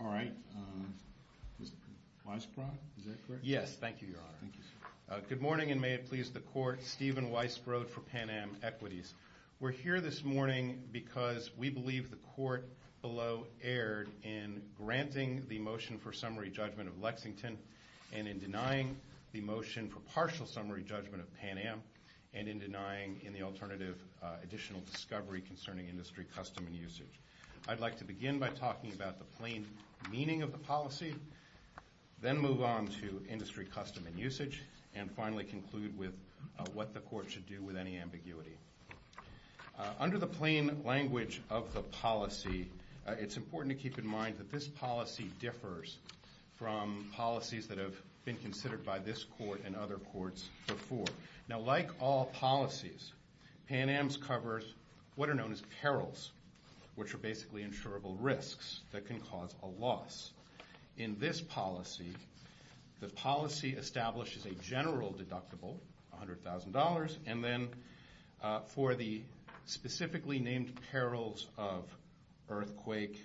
All right, Mr. Weisbrod, is that correct? Yes, thank you, Your Honor. Thank you, sir. Good morning, and may it please the court, Stephen Weisbrod for Pan Am Equities. We're here this morning because we believe the court below erred in granting the motion for summary judgment of Lexington and in denying the motion for partial summary judgment of Pan Am, and in denying in the alternative additional discovery concerning industry custom and usage. I'd like to begin by talking about the plain meaning of the policy, then move on to industry custom and usage, and finally conclude with what the court should do with any ambiguity. Under the plain language of the policy, it's important to keep in mind that this policy differs from policies that have been considered by this court and other courts before. Now, like all policies, Pan Am's covers what are known as perils, which are basically insurable risks that can cause a loss. In this policy, the policy establishes a general deductible, $100,000, and then for the specifically named perils of earthquake,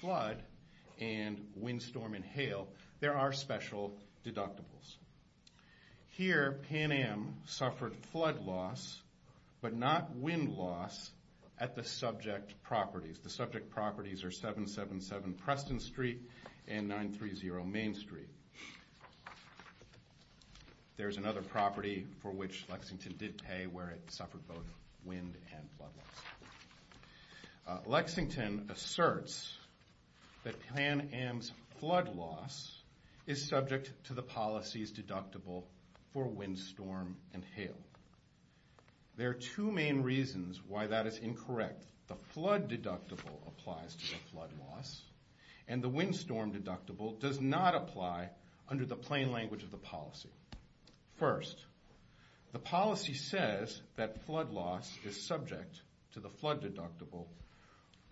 flood, and wind, storm, and hail, there are special deductibles. Here, Pan Am suffered flood loss, but not wind loss, at the subject properties. The subject properties are 777 Preston Street and 930 Main Street. There's another property for which Lexington did pay, where it suffered both wind and flood loss. Lexington asserts that Pan Am's flood loss is subject to the policy's deductible for wind, storm, and hail. There are two main reasons why that is incorrect. The flood deductible applies to the flood loss, and the wind storm deductible does not apply under the plain language of the policy. First, the policy says that flood loss is subject to the flood deductible,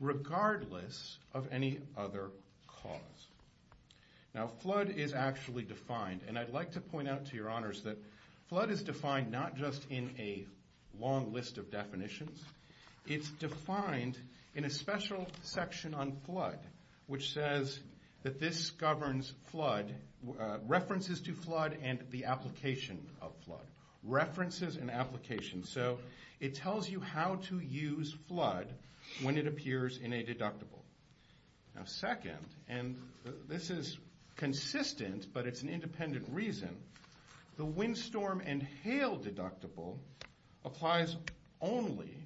regardless of any other cause. Now, flood is actually defined, and I'd like to point out to your honors that flood is defined not just in a long list of definitions. It's defined in a special section on flood, which says that this governs flood, references to flood, and the application of flood. References and application. So it tells you how to use flood when it appears in a deductible. Now, second, and this is consistent, but it's an independent reason, the wind storm and hail deductible applies only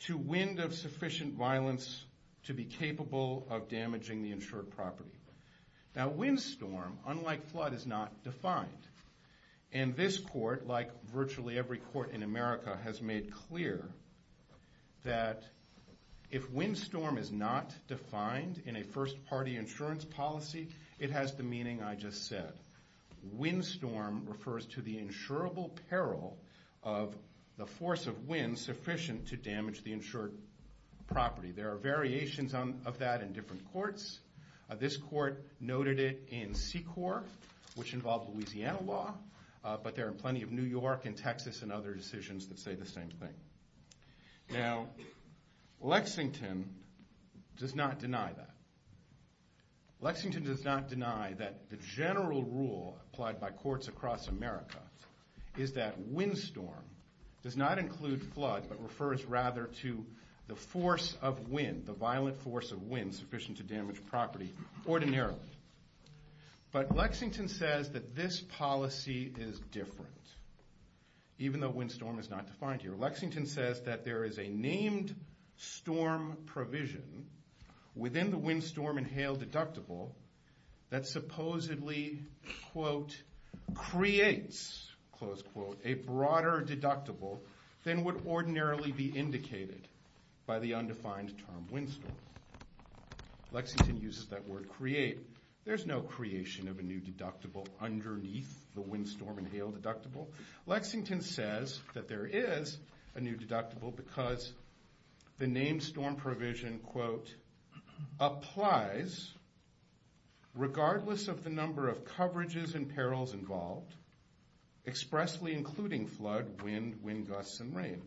to wind of sufficient violence to be capable of damaging the insured property. Now, wind storm, unlike flood, is not defined. And this court, like virtually every court in America, has made clear that if wind storm is not defined in a first party insurance policy, it has the meaning I just said. Wind storm refers to the insurable peril of the force of wind sufficient to damage the insured property. There are variations of that in different courts. This court noted it in SECOR, which involved Louisiana law, but there are plenty of New York and Texas and other decisions that say the same thing. Now, Lexington does not deny that. Lexington does not deny that the general rule applied by courts across America is that wind storm does not include flood, but refers rather to the force of wind, the violent force of wind sufficient to damage property ordinarily. But Lexington says that this policy is different. Even though wind storm is not defined here, Lexington says that there is a named storm provision within the wind storm and hail deductible that supposedly, quote, creates, close quote, a broader deductible than would ordinarily be indicated by the undefined term wind storm. Lexington uses that word create. There's no creation of a new deductible underneath the wind storm and hail deductible. Lexington says that there is a new deductible because the named storm provision, quote, applies regardless of the number of coverages and perils involved, expressly including flood, wind, wind gusts, and rain.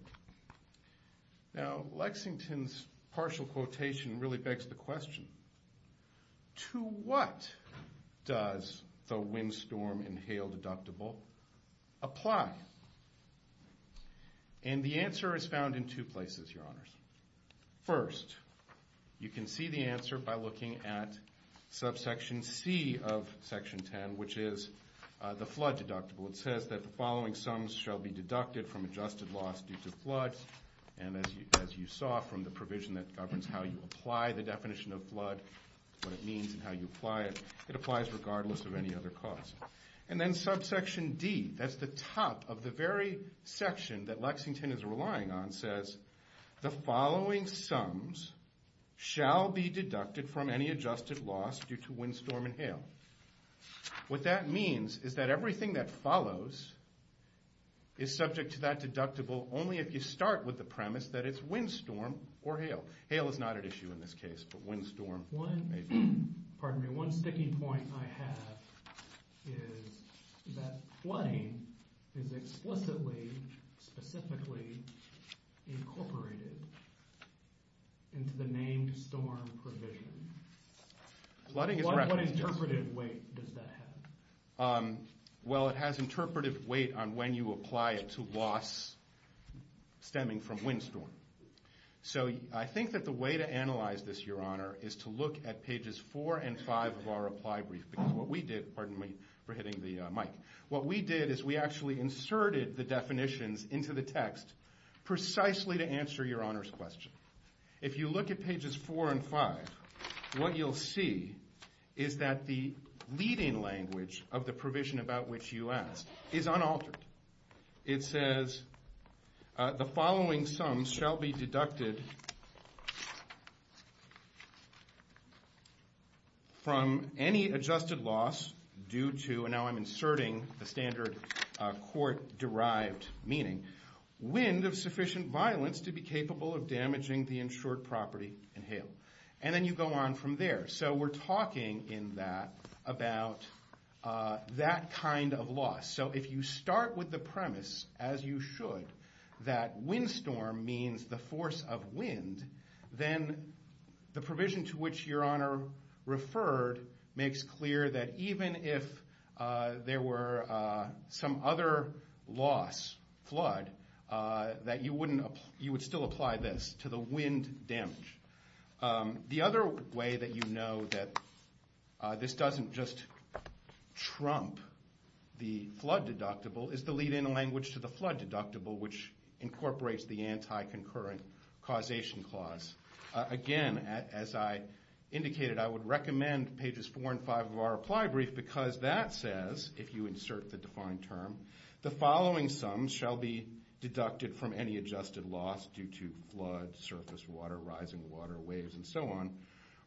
Now, Lexington's partial quotation really begs the question, to what does the wind storm and hail deductible apply? And the answer is found in two places, your honors. First, you can see the answer by looking at subsection C of section 10, which is the flood deductible. It says that the following sums shall be deducted from adjusted loss due to flood. And as you saw from the provision that apply the definition of flood, what it means and how you apply it, it applies regardless of any other cost. And then subsection D, that's the top of the very section that Lexington is relying on, says the following sums shall be deducted from any adjusted loss due to wind storm and hail. What that means is that everything that follows is subject to that deductible only if you start with the premise that it's wind storm or hail. Hail is not at issue in this case, but wind storm may be. Pardon me, one sticky point I have is that flooding is explicitly, specifically incorporated into the named storm provision. Flooding is a record. What interpretive weight does that have? Well, it has interpretive weight on when you apply it to loss stemming from wind storm. So I think that the way to analyze this, Your Honor, is to look at pages 4 and 5 of our reply brief. What we did, pardon me for hitting the mic, what we did is we actually inserted the definitions into the text precisely to answer Your Honor's question. If you look at pages 4 and 5, what you'll see is that the leading language of the provision about which you asked is unaltered. It says, the following sums shall be deducted from any adjusted loss due to, and now I'm inserting the standard court-derived meaning, wind of sufficient violence to be capable of damaging the insured property and hail. And then you go on from there. So we're talking in that about that kind of loss. So if you start with the premise, as you should, that wind storm means the force of wind, then the provision to which Your Honor referred makes clear that even if there were some other loss, flood, that you would still apply this to the wind damage. The other way that you know that this doesn't just trump the flood deductible is the leading language to the flood deductible, which incorporates the anti-concurrent causation clause. Again, as I indicated, I would recommend pages 4 and 5 of our reply brief, because that says, if you insert the defined term, the following sums shall be deducted from any adjusted loss due to flood, surface water, rising water, waves, and so on,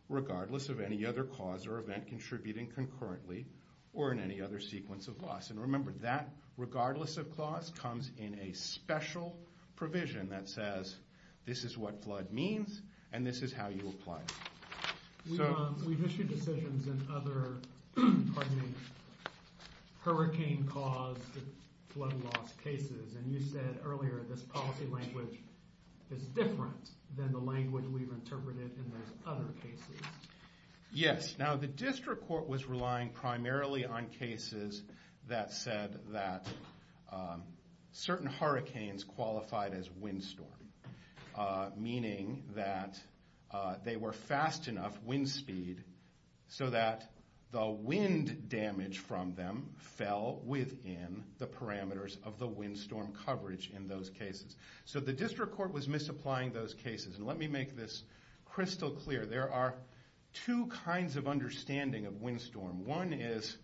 regardless of any other cause or event contributing concurrently or in any other sequence of loss. And remember, that, regardless of clause, comes in a special provision that says, this is what flood means, and this is how you apply it. We've issued decisions in other hurricane-caused flood loss cases. And you said earlier, this policy language is different than the language we've interpreted in those other cases. Yes. Now, the district court was relying primarily on cases that said that certain hurricanes qualified as windstorm, meaning that they were fast enough wind speed so that the wind damage from them fell within the parameters of the windstorm coverage in those cases. So the district court was misapplying those cases. And let me make this crystal clear. There are two kinds of understanding of windstorm. One is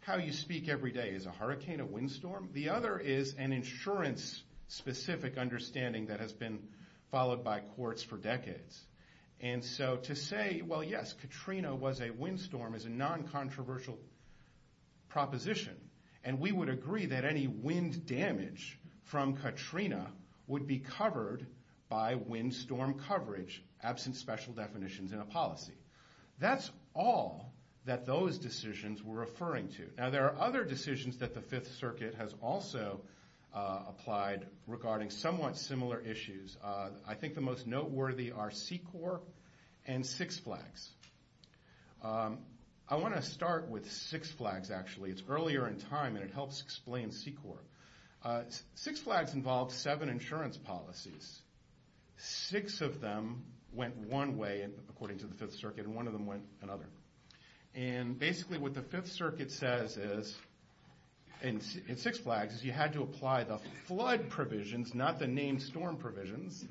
how you speak every day. Is a hurricane a windstorm? The other is an insurance-specific understanding that has been followed by courts for decades. And so to say, well, yes, Katrina was a windstorm is a non-controversial proposition. And we would agree that any wind damage from Katrina would be covered by windstorm coverage, absent special definitions in a policy. That's all that those decisions were referring to. Now, there are other decisions that the Fifth Circuit has also applied regarding somewhat similar issues. I think the most noteworthy are C-Corps and Six Flags. I want to start with Six Flags, actually. It's earlier in time, and it helps explain C-Corps. Six Flags involves seven insurance policies. Six of them went one way, according to the Fifth Circuit, and one of them went another. And basically, what the Fifth Circuit says in Six Flags is you had to apply the flood provisions, not the named storm provisions,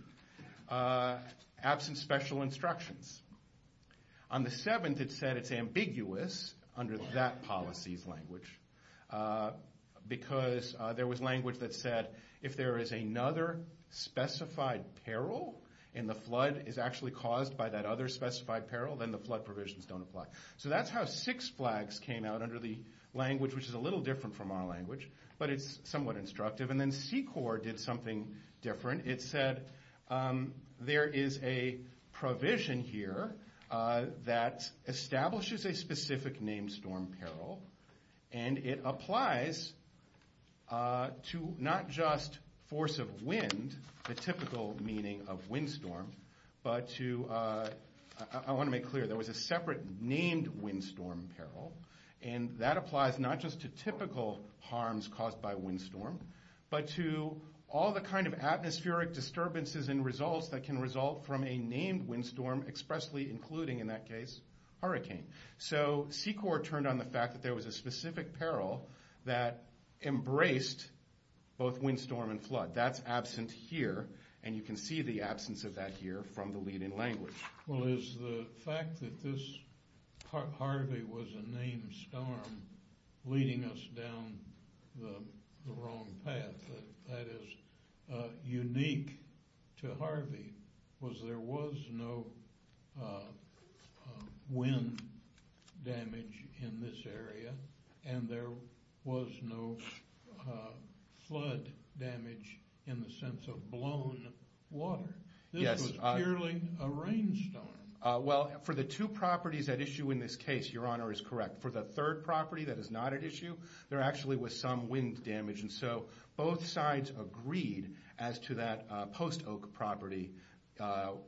absent special instructions. On the seventh, it said it's ambiguous under that policy's language. Because there was language that said, if there is another specified peril, and the flood is actually caused by that other specified peril, then the flood provisions don't apply. So that's how Six Flags came out under the language, which is a little different from our language, but it's somewhat instructive. And then C-Corps did something different. It said there is a provision here that establishes a specific named storm peril, and it applies to not just force of wind, the typical meaning of windstorm, but to, I want to make clear, there was a separate named windstorm peril, and that applies not just to typical harms caused by windstorm, but to all the kind of atmospheric disturbances and results that can result from a named windstorm, expressly including, in that case, hurricane. So C-Corps turned on the fact that there was a specific peril that embraced both windstorm and flood. That's absent here, and you can see the absence of that here from the leading language. Well, is the fact that this Harvey was a named storm leading us down the wrong path, that is unique to Harvey, was there was no wind damage in this area, and there was no flood damage in the sense of blown water? This was purely a rainstorm. Well, for the two properties at issue in this case, Your Honor is correct. For the third property that is not at issue, there actually was some wind damage. And so both sides agreed as to that post oak property,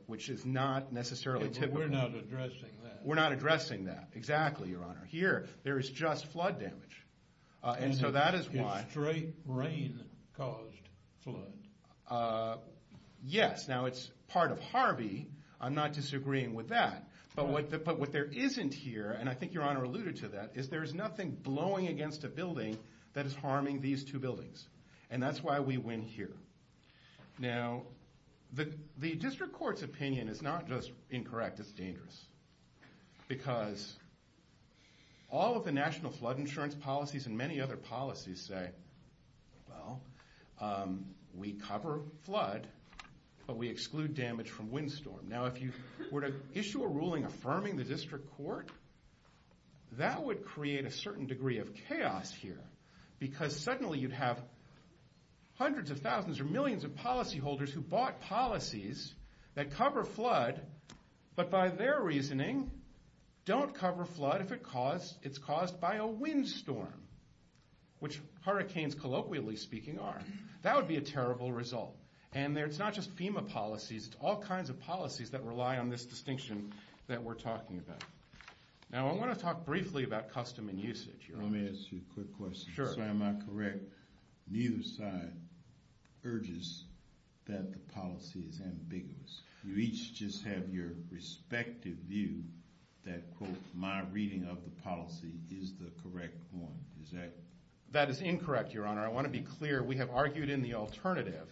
which is not necessarily typical. We're not addressing that. We're not addressing that. Exactly, Your Honor. Here, there is just flood damage. And so that is why. And a straight rain caused flood. Yes, now it's part of Harvey. I'm not disagreeing with that. But what there isn't here, and I think Your Honor alluded to that, is there is nothing blowing against a building that is harming these two buildings. And that's why we win here. Now, the district court's opinion is not just incorrect, it's dangerous. Because all of the national flood insurance policies and many other policies say, well, we cover flood, but we exclude damage from windstorm. Now, if you were to issue a ruling affirming the district court, that would create a certain degree of chaos here. Because suddenly, you'd have hundreds of thousands or millions of policyholders who bought policies that cover flood, but by their reasoning, don't cover flood if it's caused by a windstorm, which hurricanes, colloquially speaking, are. That would be a terrible result. And it's not just FEMA policies, it's all kinds of policies that rely on this distinction that we're talking about. Now, I want to talk briefly about custom and usage, Your Honor. Let me ask you a quick question. Sure. So am I correct, neither side urges that the policy is ambiguous. You each just have your respective view that, quote, my reading of the policy is the correct one. Is that? That is incorrect, Your Honor. I want to be clear. We have argued in the alternative.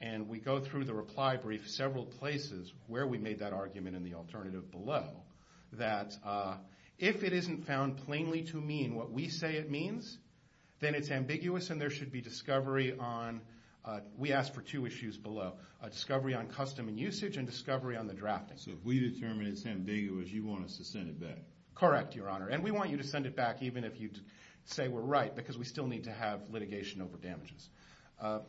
And we go through the reply brief several places where we made that argument in the alternative below. That if it isn't found plainly to mean what we say it means, then it's ambiguous and there should be discovery on, we asked for two issues below, a discovery on custom and usage and discovery on the drafting. So if we determine it's ambiguous, you want us to send it back. Correct, Your Honor. And we want you to send it back even if you say we're right, because we still need to have litigation over damages.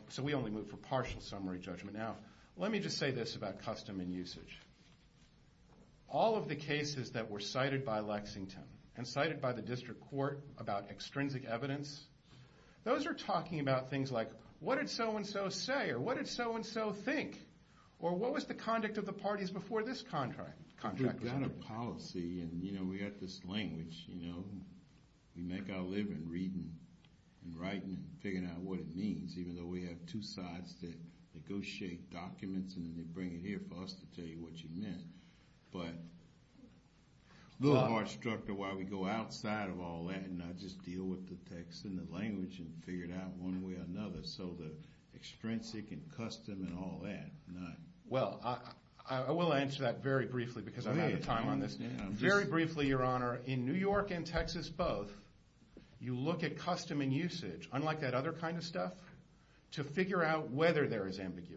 So we only move for partial summary judgment. Now, let me just say this about custom and usage. All of the cases that were cited by Lexington and cited by the district court about extrinsic evidence, those are talking about things like, what did so-and-so say? Or what did so-and-so think? Or what was the conduct of the parties before this contract was signed? We've got a policy, and we've got this language. We make our living reading and writing and figuring out what it means, even though we have two sides that negotiate documents and then they bring it here for us to tell you what you meant. But a little more structure why we go outside of all that and not just deal with the text and the language and figure it out one way or another. So the extrinsic and custom and all that, not. Well, I will answer that very briefly, because I'm out of time on this. Very briefly, Your Honor, in New York and Texas both, you look at custom and usage, unlike that other kind of stuff, to figure out whether there is ambiguity.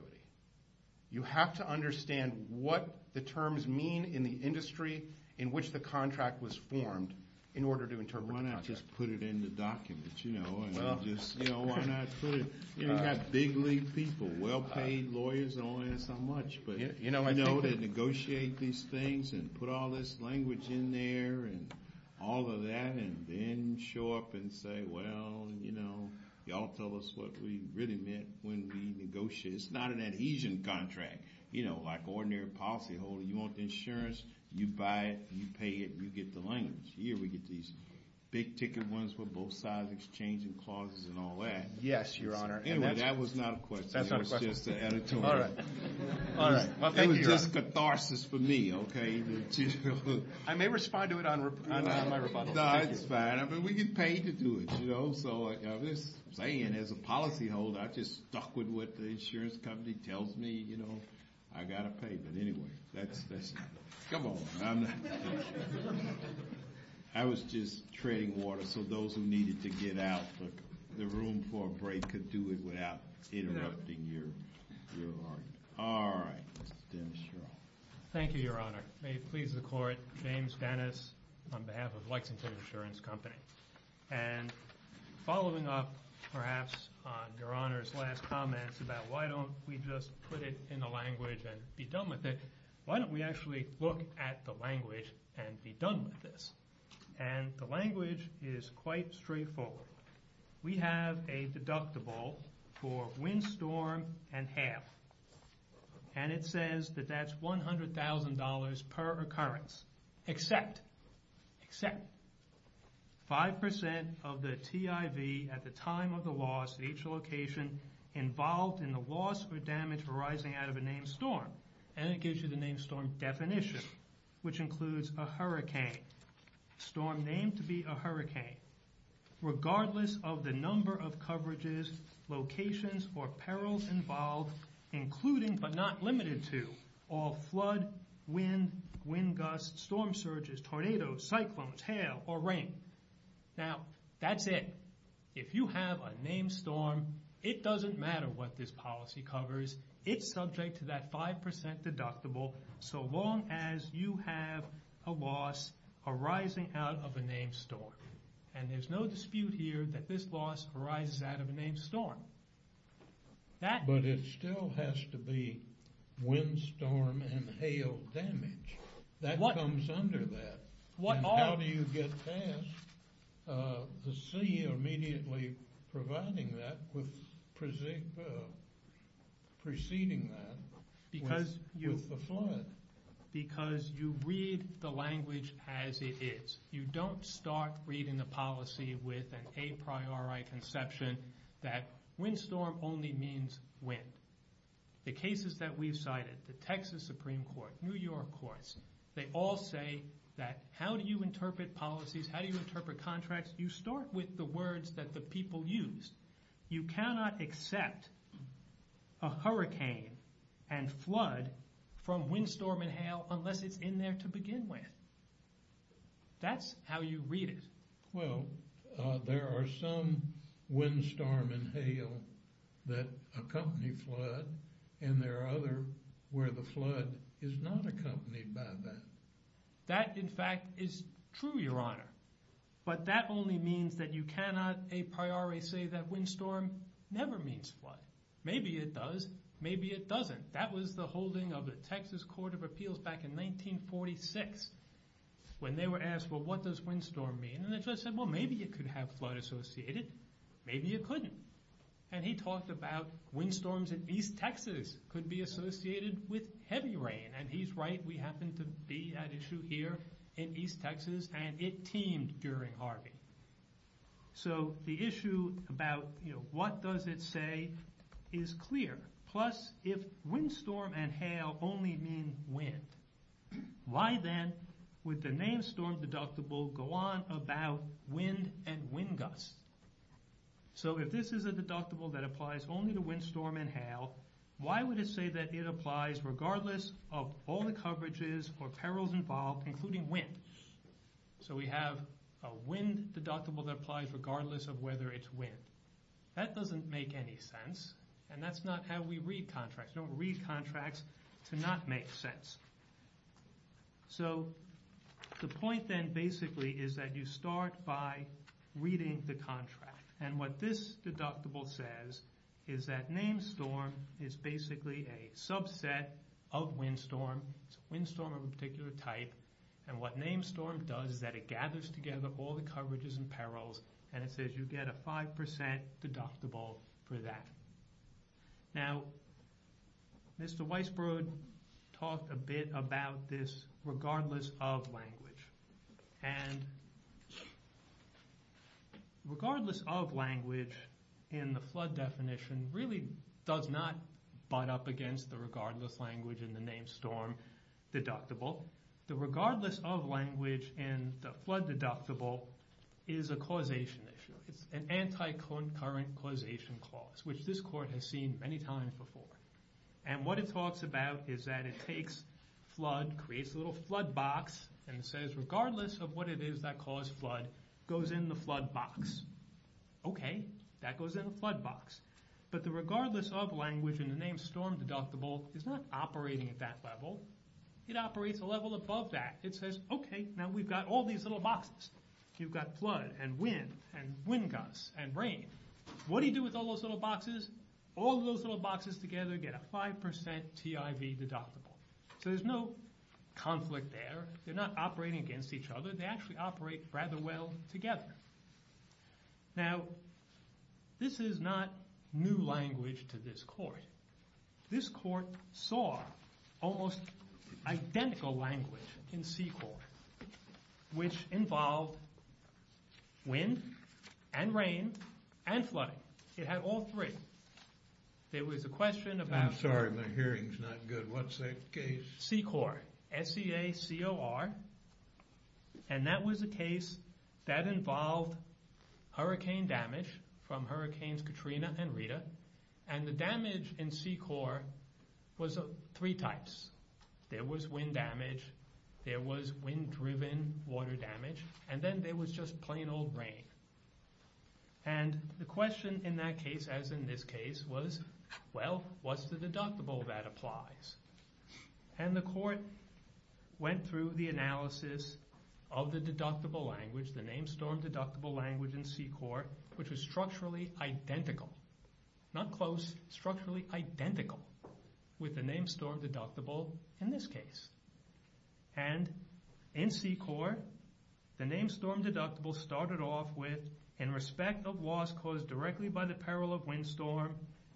You have to understand what the terms mean in the industry in which the contract was formed in order to interpret the contract. Why not just put it in the documents? You know, and just, you know, why not put it? You've got big league people, well-paid lawyers, and all that and so much. But you know, they negotiate these things and put all this language in there and all of that, and then show up and say, well, you know, y'all tell us what we really meant when we negotiated. It's not an adhesion contract, you know, like ordinary policyholder. You want insurance, you buy it, you pay it, and you get the language. Here we get these big ticket ones with both sides exchanging clauses and all that. Yes, Your Honor. Anyway, that was not a question. That's not a question. It was just an editorial. All right. All right. Well, thank you, Your Honor. It was just catharsis for me, OK? I may respond to it on my rebuttal. No, it's fine. I mean, we get paid to do it, you know? So I'm just saying, as a policyholder, I'm just stuck with what the insurance company tells me, you know, I've got to pay. But anyway, that's it. Come on. I was just treading water. So those who needed to get out, the room for a break could do it without interrupting your argument. All right, Mr. Dennis Shroff. Thank you, Your Honor. May it please the court, James Dennis on behalf of Lexington Insurance Company. And following up, perhaps, on Your Honor's last comments about why don't we just put it in the language and be done with it, why don't we actually look at the language and be done with this? And the language is quite straightforward. We have a deductible for windstorm and half. And it says that that's $100,000 per occurrence, except 5% of the TIV at the time of the loss at each location involved in the loss or damage arising out of a named storm. And it gives you the named storm definition, which includes a hurricane, storm named to be a hurricane, regardless of the number of coverages, locations, or perils involved, including but not limited to all flood, wind, wind gusts, storm surges, tornadoes, cyclones, hail, or rain. Now, that's it. If you have a named storm, it doesn't matter what this policy covers. It's subject to that 5% deductible, so long as you have a loss arising out of a named storm. And there's no dispute here that this loss arises out of a named storm. That. But it still has to be windstorm and hail damage. That comes under that. And how do you get past the sea immediately providing that with preceding that with the flood? Because you read the language as it is. You don't start reading the policy with an a priori conception that windstorm only means wind. The cases that we've cited, the Texas Supreme Court, New York courts, they all say that how do you interpret policies? How do you interpret contracts? You start with the words that the people used. You cannot accept a hurricane and flood from windstorm and hail unless it's in there to begin with. That's how you read it. Well, there are some windstorm and hail that accompany flood, and there are other where the flood is not accompanied by that. That, in fact, is true, Your Honor. But that only means that you cannot a priori say that windstorm never means flood. Maybe it does. Maybe it doesn't. That was the holding of the Texas Court of Appeals back in 1946 when they were asked, well, what does windstorm mean? And the judge said, well, maybe it could have flood associated. Maybe it couldn't. And he talked about windstorms in East Texas could be associated with heavy rain. And he's right. We happen to be at issue here in East Texas, and it teemed during Harvey. So the issue about what does it say is clear. Plus, if windstorm and hail only mean wind, why then would the name storm deductible go on about wind and wind gusts? So if this is a deductible that applies only to windstorm and hail, why would it say that it applies regardless of all the coverages or perils involved, including wind? So we have a wind deductible that applies regardless of whether it's wind. That doesn't make any sense, and that's not how we read contracts. Don't read contracts to not make sense. So the point then, basically, is that you start by reading the contract. And what this deductible says is that name storm is basically a subset of windstorm. It's a windstorm of a particular type. And what name storm does is that it gathers together all the coverages and perils, and it says you get a 5% deductible for that. Now, Mr. Weisbrod talked a bit about this regardless of language. And regardless of language in the flood definition really does not butt up against the regardless language in the name storm deductible. The regardless of language in the flood deductible is a causation issue. It's an anti-concurrent causation clause, which this court has seen many times before. And what it talks about is that it takes flood, creates a little flood box, and it says regardless of what it is that caused flood, goes in the flood box. OK, that goes in the flood box. But the regardless of language in the name storm deductible is not operating at that level. It operates a level above that. It says, OK, now we've got all these little boxes. You've got flood, and wind, and wind gusts, and rain. What do you do with all those little boxes? All those little boxes together get a 5% TIV deductible. So there's no conflict there. They're not operating against each other. They actually operate rather well together. Now, this is not new language to this court. This court saw almost identical language in C-Corps, which involved wind, and rain, and flooding. It had all three. There was a question about C-Corps, S-C-A-C-O-R. And that was a case that involved hurricane damage from Hurricanes Katrina and Rita. And the damage in C-Corps was three types. There was wind damage. There was wind-driven water damage. And then there was just plain old rain. And the question in that case, as in this case, was, well, what's the deductible that applies? And the court went through the analysis of the deductible language, the name storm deductible language in C-Corps, which was structurally identical. Not close, structurally identical with the name storm deductible in this case. And in C-Corps, the name storm deductible started off with, in respect of loss caused directly by the peril of windstorm,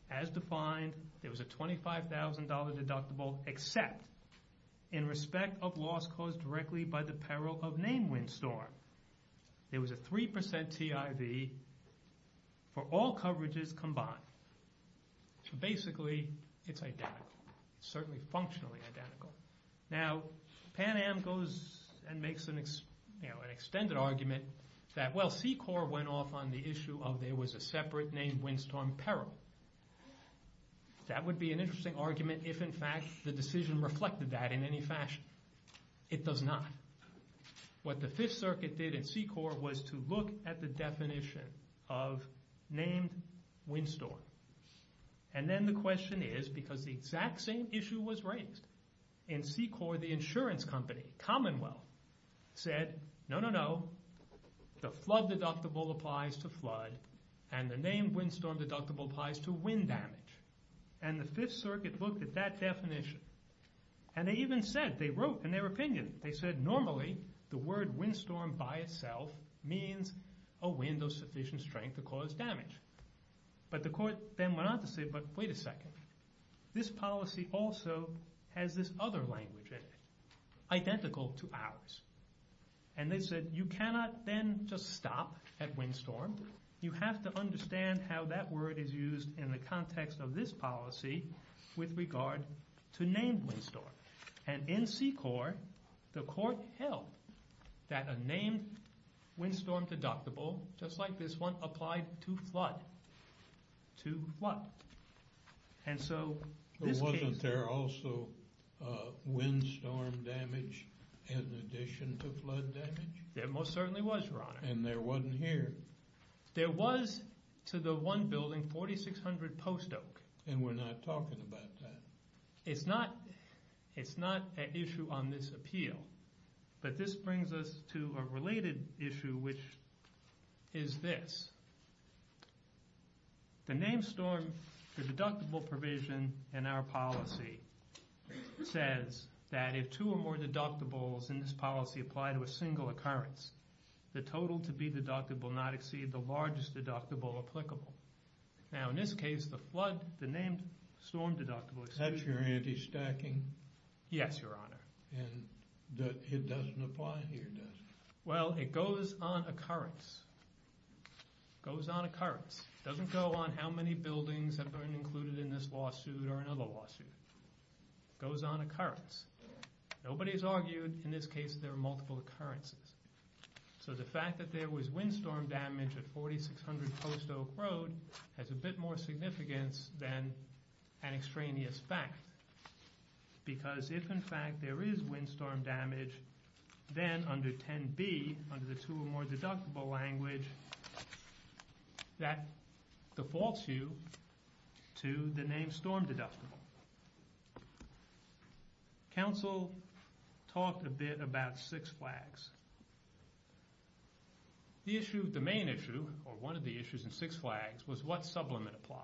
as defined, there was a $25,000 deductible, except in respect of loss caused directly by the peril of name windstorm. There was a 3% TIV for all coverages combined. So basically, it's identical. It's certainly functionally identical. Now, Pan Am goes and makes an extended argument that, well, C-Corps went off on the issue of there was a separate name windstorm peril. That would be an interesting argument if, in fact, the decision reflected that in any fashion. It does not. What the Fifth Circuit did in C-Corps was to look at the definition of named windstorm. And then the question is, because the exact same issue was raised, in C-Corps, the insurance company, Commonwealth, said, no, no, no. The flood deductible applies to flood. And the name windstorm deductible applies to wind damage. And the Fifth Circuit looked at that definition. And they even said, they wrote in their opinion, they said, normally, the word windstorm by itself means a wind of sufficient strength to cause damage. But the court then went on to say, but wait a second. This policy also has this other language in it, identical to ours. And they said, you cannot then just stop at windstorm. You have to understand how that word is used in the context of this policy with regard to named windstorm. And in C-Corps, the court held that a named windstorm deductible, just like this one, applied to flood. To flood. And so this case. But wasn't there also windstorm damage in addition to flood damage? There most certainly was, Your Honor. And there wasn't here. There was, to the one building, 4,600 post oak. And we're not talking about that. It's not an issue on this appeal. But this brings us to a related issue, which is this. The named storm, the deductible provision in our policy says that if two or more deductibles in this policy apply to a single occurrence, the total to be deductible will not exceed the largest deductible applicable. Now in this case, the flood, the named storm deductible is. That's your anti-stacking? Yes, Your Honor. And it doesn't apply here, does it? Well, it goes on occurrence. Goes on occurrence. Doesn't go on how many buildings have been included in this lawsuit or another lawsuit. Goes on occurrence. Nobody's argued, in this case, there are multiple occurrences. So the fact that there was windstorm damage at 4,600 post oak road has a bit more significance than an extraneous fact. Because if, in fact, there is windstorm damage, then under 10b, under the two or more deductible language, that defaults you to the named storm deductible. Counsel talked a bit about six flags. The issue, the main issue, or one of the issues in six flags was what sublimate applied.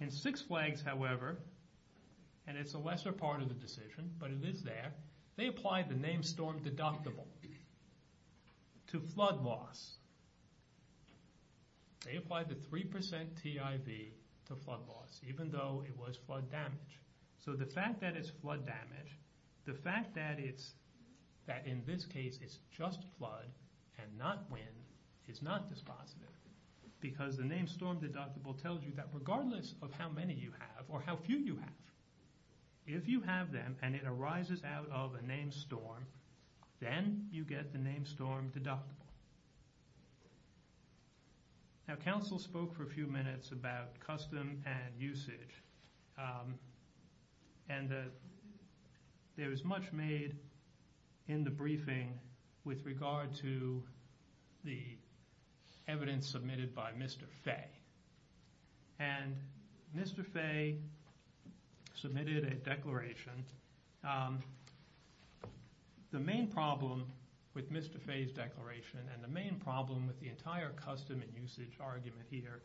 In six flags, however, and it's a lesser part of the decision, but it is there, they applied the named storm deductible to flood loss. They applied the 3% TIV to flood loss, even though it was flood damage. So the fact that it's flood damage, the fact that in this case, it's just flood and not wind is not dispositive. Because the named storm deductible tells you that regardless of how many you have or how few you have, if you have them and it arises out of a named storm, then you get the named storm deductible. Now, counsel spoke for a few minutes about custom and usage. And there was much made in the briefing with regard to the evidence submitted by Mr. Fay. And Mr. Fay submitted a declaration. The main problem with Mr. Fay's declaration and the main problem with the entire custom and usage argument here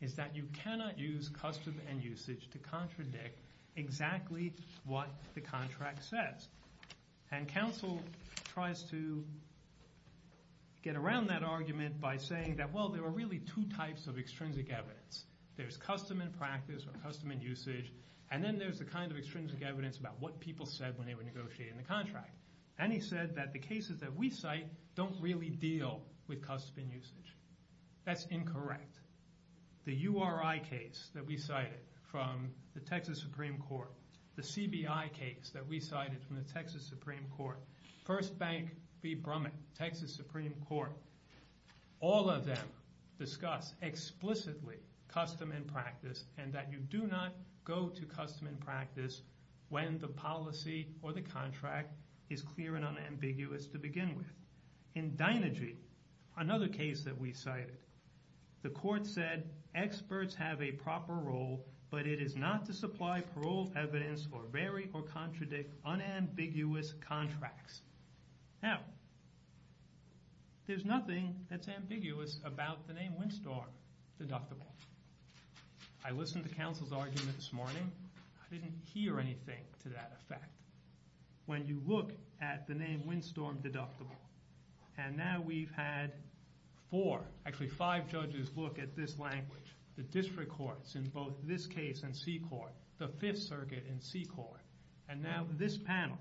is that you cannot use custom and usage to contradict exactly what the contract says. And counsel tries to get around that argument by saying that, well, there are really two types of extrinsic evidence. There's custom and practice or custom and usage. And then there's the kind of extrinsic evidence about what people said when they were negotiating the contract. And he said that the cases that we cite don't really deal with custom and usage. That's incorrect. The URI case that we cited from the Texas Supreme Court, the CBI case that we cited from the Texas Supreme Court, First Bank v. Brumman, Texas Supreme Court, all of them discuss explicitly custom and practice and that you do not go to custom and practice when the policy or the contract is clear and unambiguous to begin with. In Dynergy, another case that we cited, the court said experts have a proper role, but it is not to supply parole evidence or vary or contradict unambiguous contracts. Now, there's nothing that's ambiguous about the name Windstorm deductible. I listened to counsel's argument this morning. I didn't hear anything to that effect. When you look at the name Windstorm deductible, and now we've had four, actually five judges look at this language, the district courts in both this case and C-Corp, the Fifth Circuit and C-Corp, and now this panel.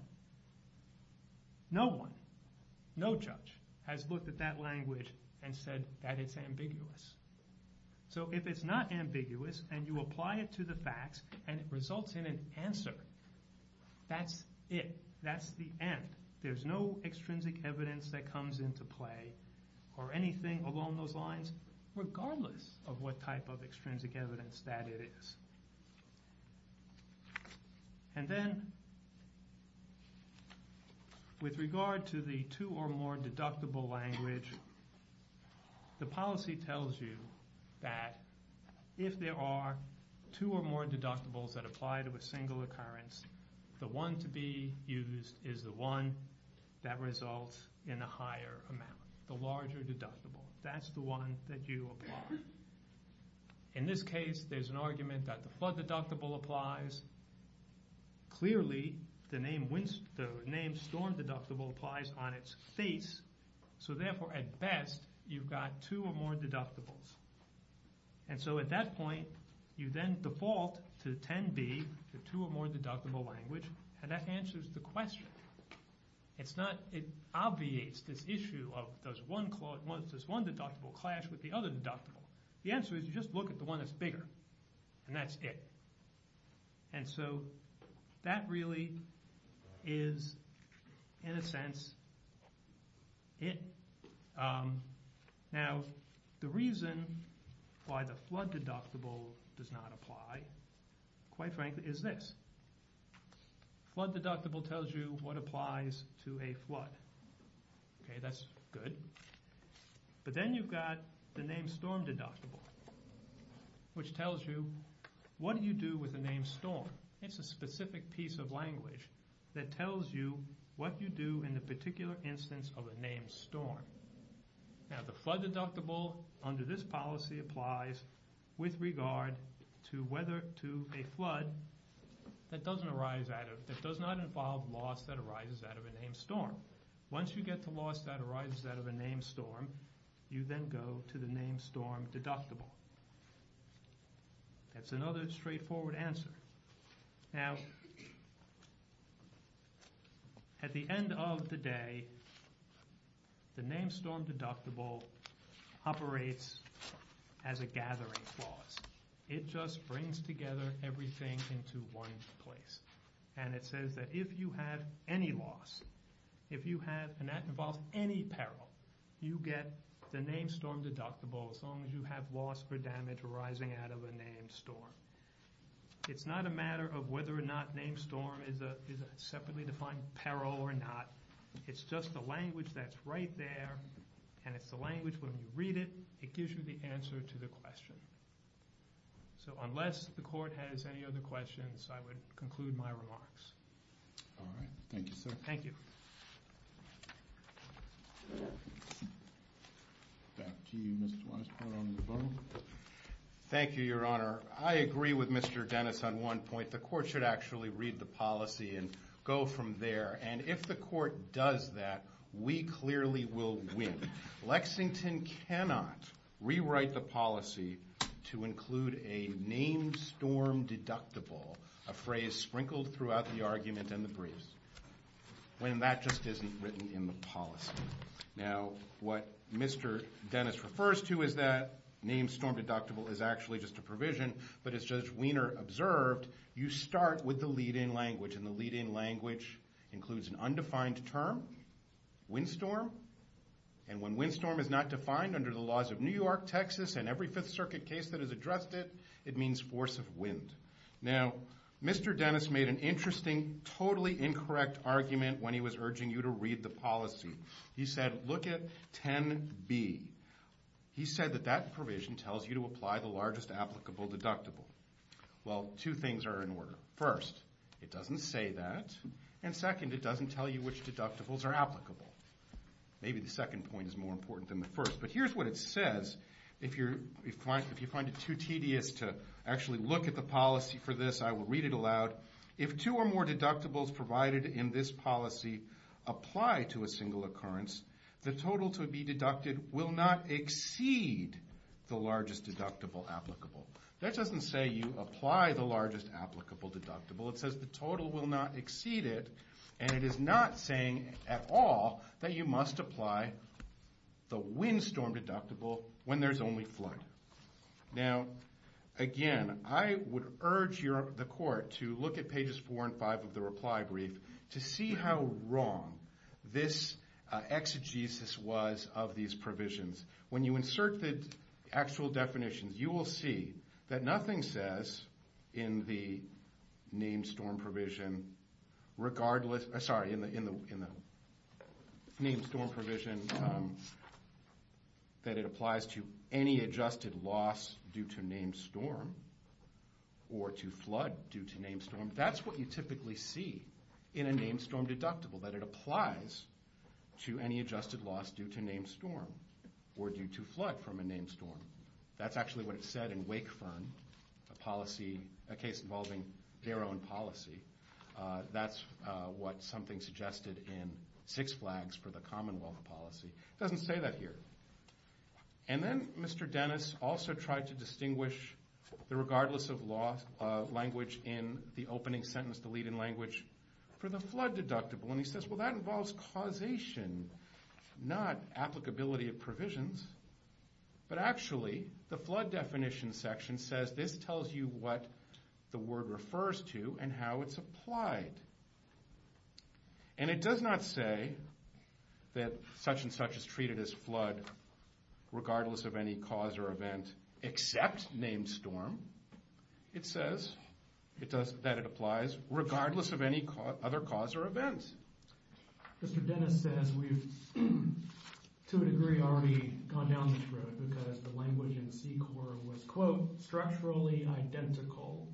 No one, no judge has looked at that language and said that it's ambiguous. So if it's not ambiguous and you apply it to the facts and it results in an answer, that's it. That's the end. There's no extrinsic evidence that comes into play or anything along those lines, regardless of what type of extrinsic evidence that it is. And then with regard to the two or more deductible language, the policy tells you that if there are two or more deductibles that apply to a single occurrence, the one to be used is the one that results in a higher amount, the larger deductible. That's the one that you apply. In this case, there's an argument that the flood deductible applies. Clearly, the name storm deductible applies on its face. So therefore, at best, you've got two or more deductibles. And so at that point, you then default to 10B, the two or more deductible language. And that answers the question. It obviates this issue of does one deductible clash with the other deductible. The answer is you just look at the one that's bigger. And that's it. And so that really is, in a sense, it. Now, the reason why the flood deductible does not apply, quite frankly, is this. Flood deductible tells you what applies to a flood. That's good. But then you've got the name storm deductible, which tells you what do you do with the name storm. It's a specific piece of language that tells you what you do in the particular instance of a name storm. Now, the flood deductible under this policy applies with regard to a flood that does not involve loss that arises out of a name storm. Once you get the loss that arises out of a name storm, you then go to the name storm deductible. That's another straightforward answer. Now, at the end of the day, the name storm deductible operates as a gathering clause. It just brings together everything into one place. And it says that if you have any loss, if you have, and that involves any peril, you get the name storm deductible as long as you have loss or damage arising out of a name storm. It's not a matter of whether or not name storm is a separately defined peril or not. It's just the language that's right there. And it's the language, when you read it, it gives you the answer to the question. So unless the court has any other questions, I would conclude my remarks. All right. Thank you, sir. Thank you. Back to you, Mr. Weisbord, on the phone. Thank you, Your Honor. I agree with Mr. Dennis on one point. The court should actually read the policy and go from there. And if the court does that, we clearly will win. Lexington cannot rewrite the policy to include a name storm deductible, a phrase sprinkled throughout the argument and the briefs, when that just isn't written in the policy. Now, what Mr. Dennis refers to as that name storm deductible is actually just a provision. But as Judge Wiener observed, you start with the lead-in language. And the lead-in language includes an undefined term, windstorm. And when windstorm is not defined under the laws of New York, Texas, and every Fifth Circuit case that has addressed it, it means force of wind. Now, Mr. Dennis made an interesting, totally incorrect argument when he was urging you to read the policy. He said, look at 10b. He said that that provision tells you to apply the largest applicable deductible. Well, two things are in order. First, it doesn't say that. And second, it doesn't tell you which deductibles are applicable. Maybe the second point is more important than the first. But here's what it says. If you find it too tedious to actually look at the policy for this, I will read it aloud. If two or more deductibles provided in this policy apply to a single occurrence, the total to be deducted will not exceed the largest deductible applicable. That doesn't say you apply the largest applicable deductible. It says the total will not exceed it. And it is not saying at all that you must apply the windstorm deductible when there's only flood. Now, again, I would urge the court to look at pages 4 and 5 of the reply brief to see how wrong this exegesis was of these provisions. When you insert the actual definitions, you will see that nothing says in the named storm provision that it applies to any adjusted loss due to named storm or to flood due to named storm. That's what you typically see in a named storm deductible, that it applies to any adjusted loss due to named storm or due to flood from a named storm. That's actually what it said in Wakefern, a policy, a case involving their own policy. That's what something suggested in Six Flags for the Commonwealth Policy. It doesn't say that here. And then Mr. Dennis also tried to distinguish the regardless of loss language in the opening sentence delete in language for the flood deductible. And he says, well, that involves causation, not applicability of provisions. But actually, the flood definition section says this tells you what the word refers to and how it's applied. And it does not say that such and such is treated as flood regardless of any cause or event except named storm. It says that it applies regardless of any other cause or event. Mr. Dennis says we've, to a degree, already gone down this road because the language in C-Corp was, quote, structurally identical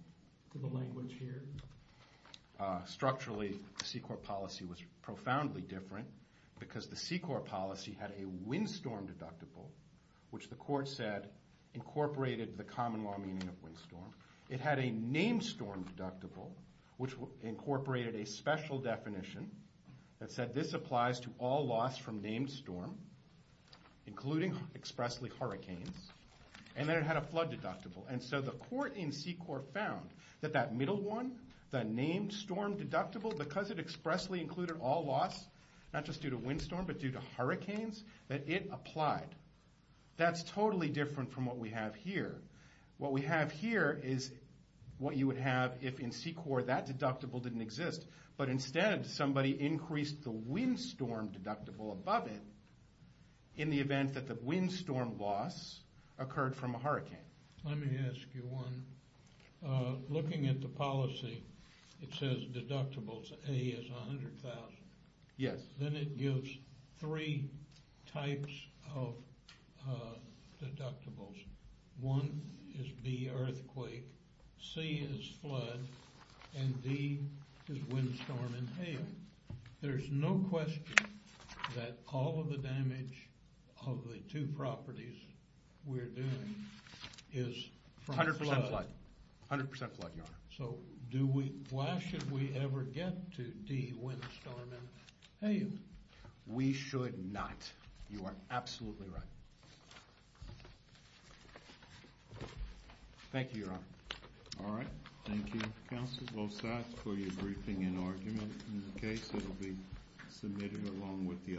to the language here. Structurally, the C-Corp policy was profoundly different because the C-Corp policy had a windstorm deductible, which the court said incorporated the common law meaning of windstorm. It had a named storm deductible, which incorporated a special definition that said this applies to all loss from named storm, including expressly hurricanes. And then it had a flood deductible. And so the court in C-Corp found that that middle one, the named storm deductible, because it expressly included all loss, not just due to windstorm, but due to hurricanes, that it applied. That's totally different from what we have here. What we have here is what you would have if, in C-Corp, that deductible didn't exist. But instead, somebody increased the windstorm deductible above it in the event that the windstorm loss occurred from a hurricane. Let me ask you one. Looking at the policy, it says deductibles A is $100,000. Yes. Then it gives three types of deductibles. One is B, earthquake. C is flood. And D is windstorm and hail. There's no question that all of the damage of the two properties we're doing is from flood. 100% flood. 100% flood, Your Honor. So why should we ever get to D, windstorm, and hail? We should not. You are absolutely right. Thank you, Your Honor. All right. Thank you, counsel, both sides, for your briefing and argument in the case. It will be submitted along with the others.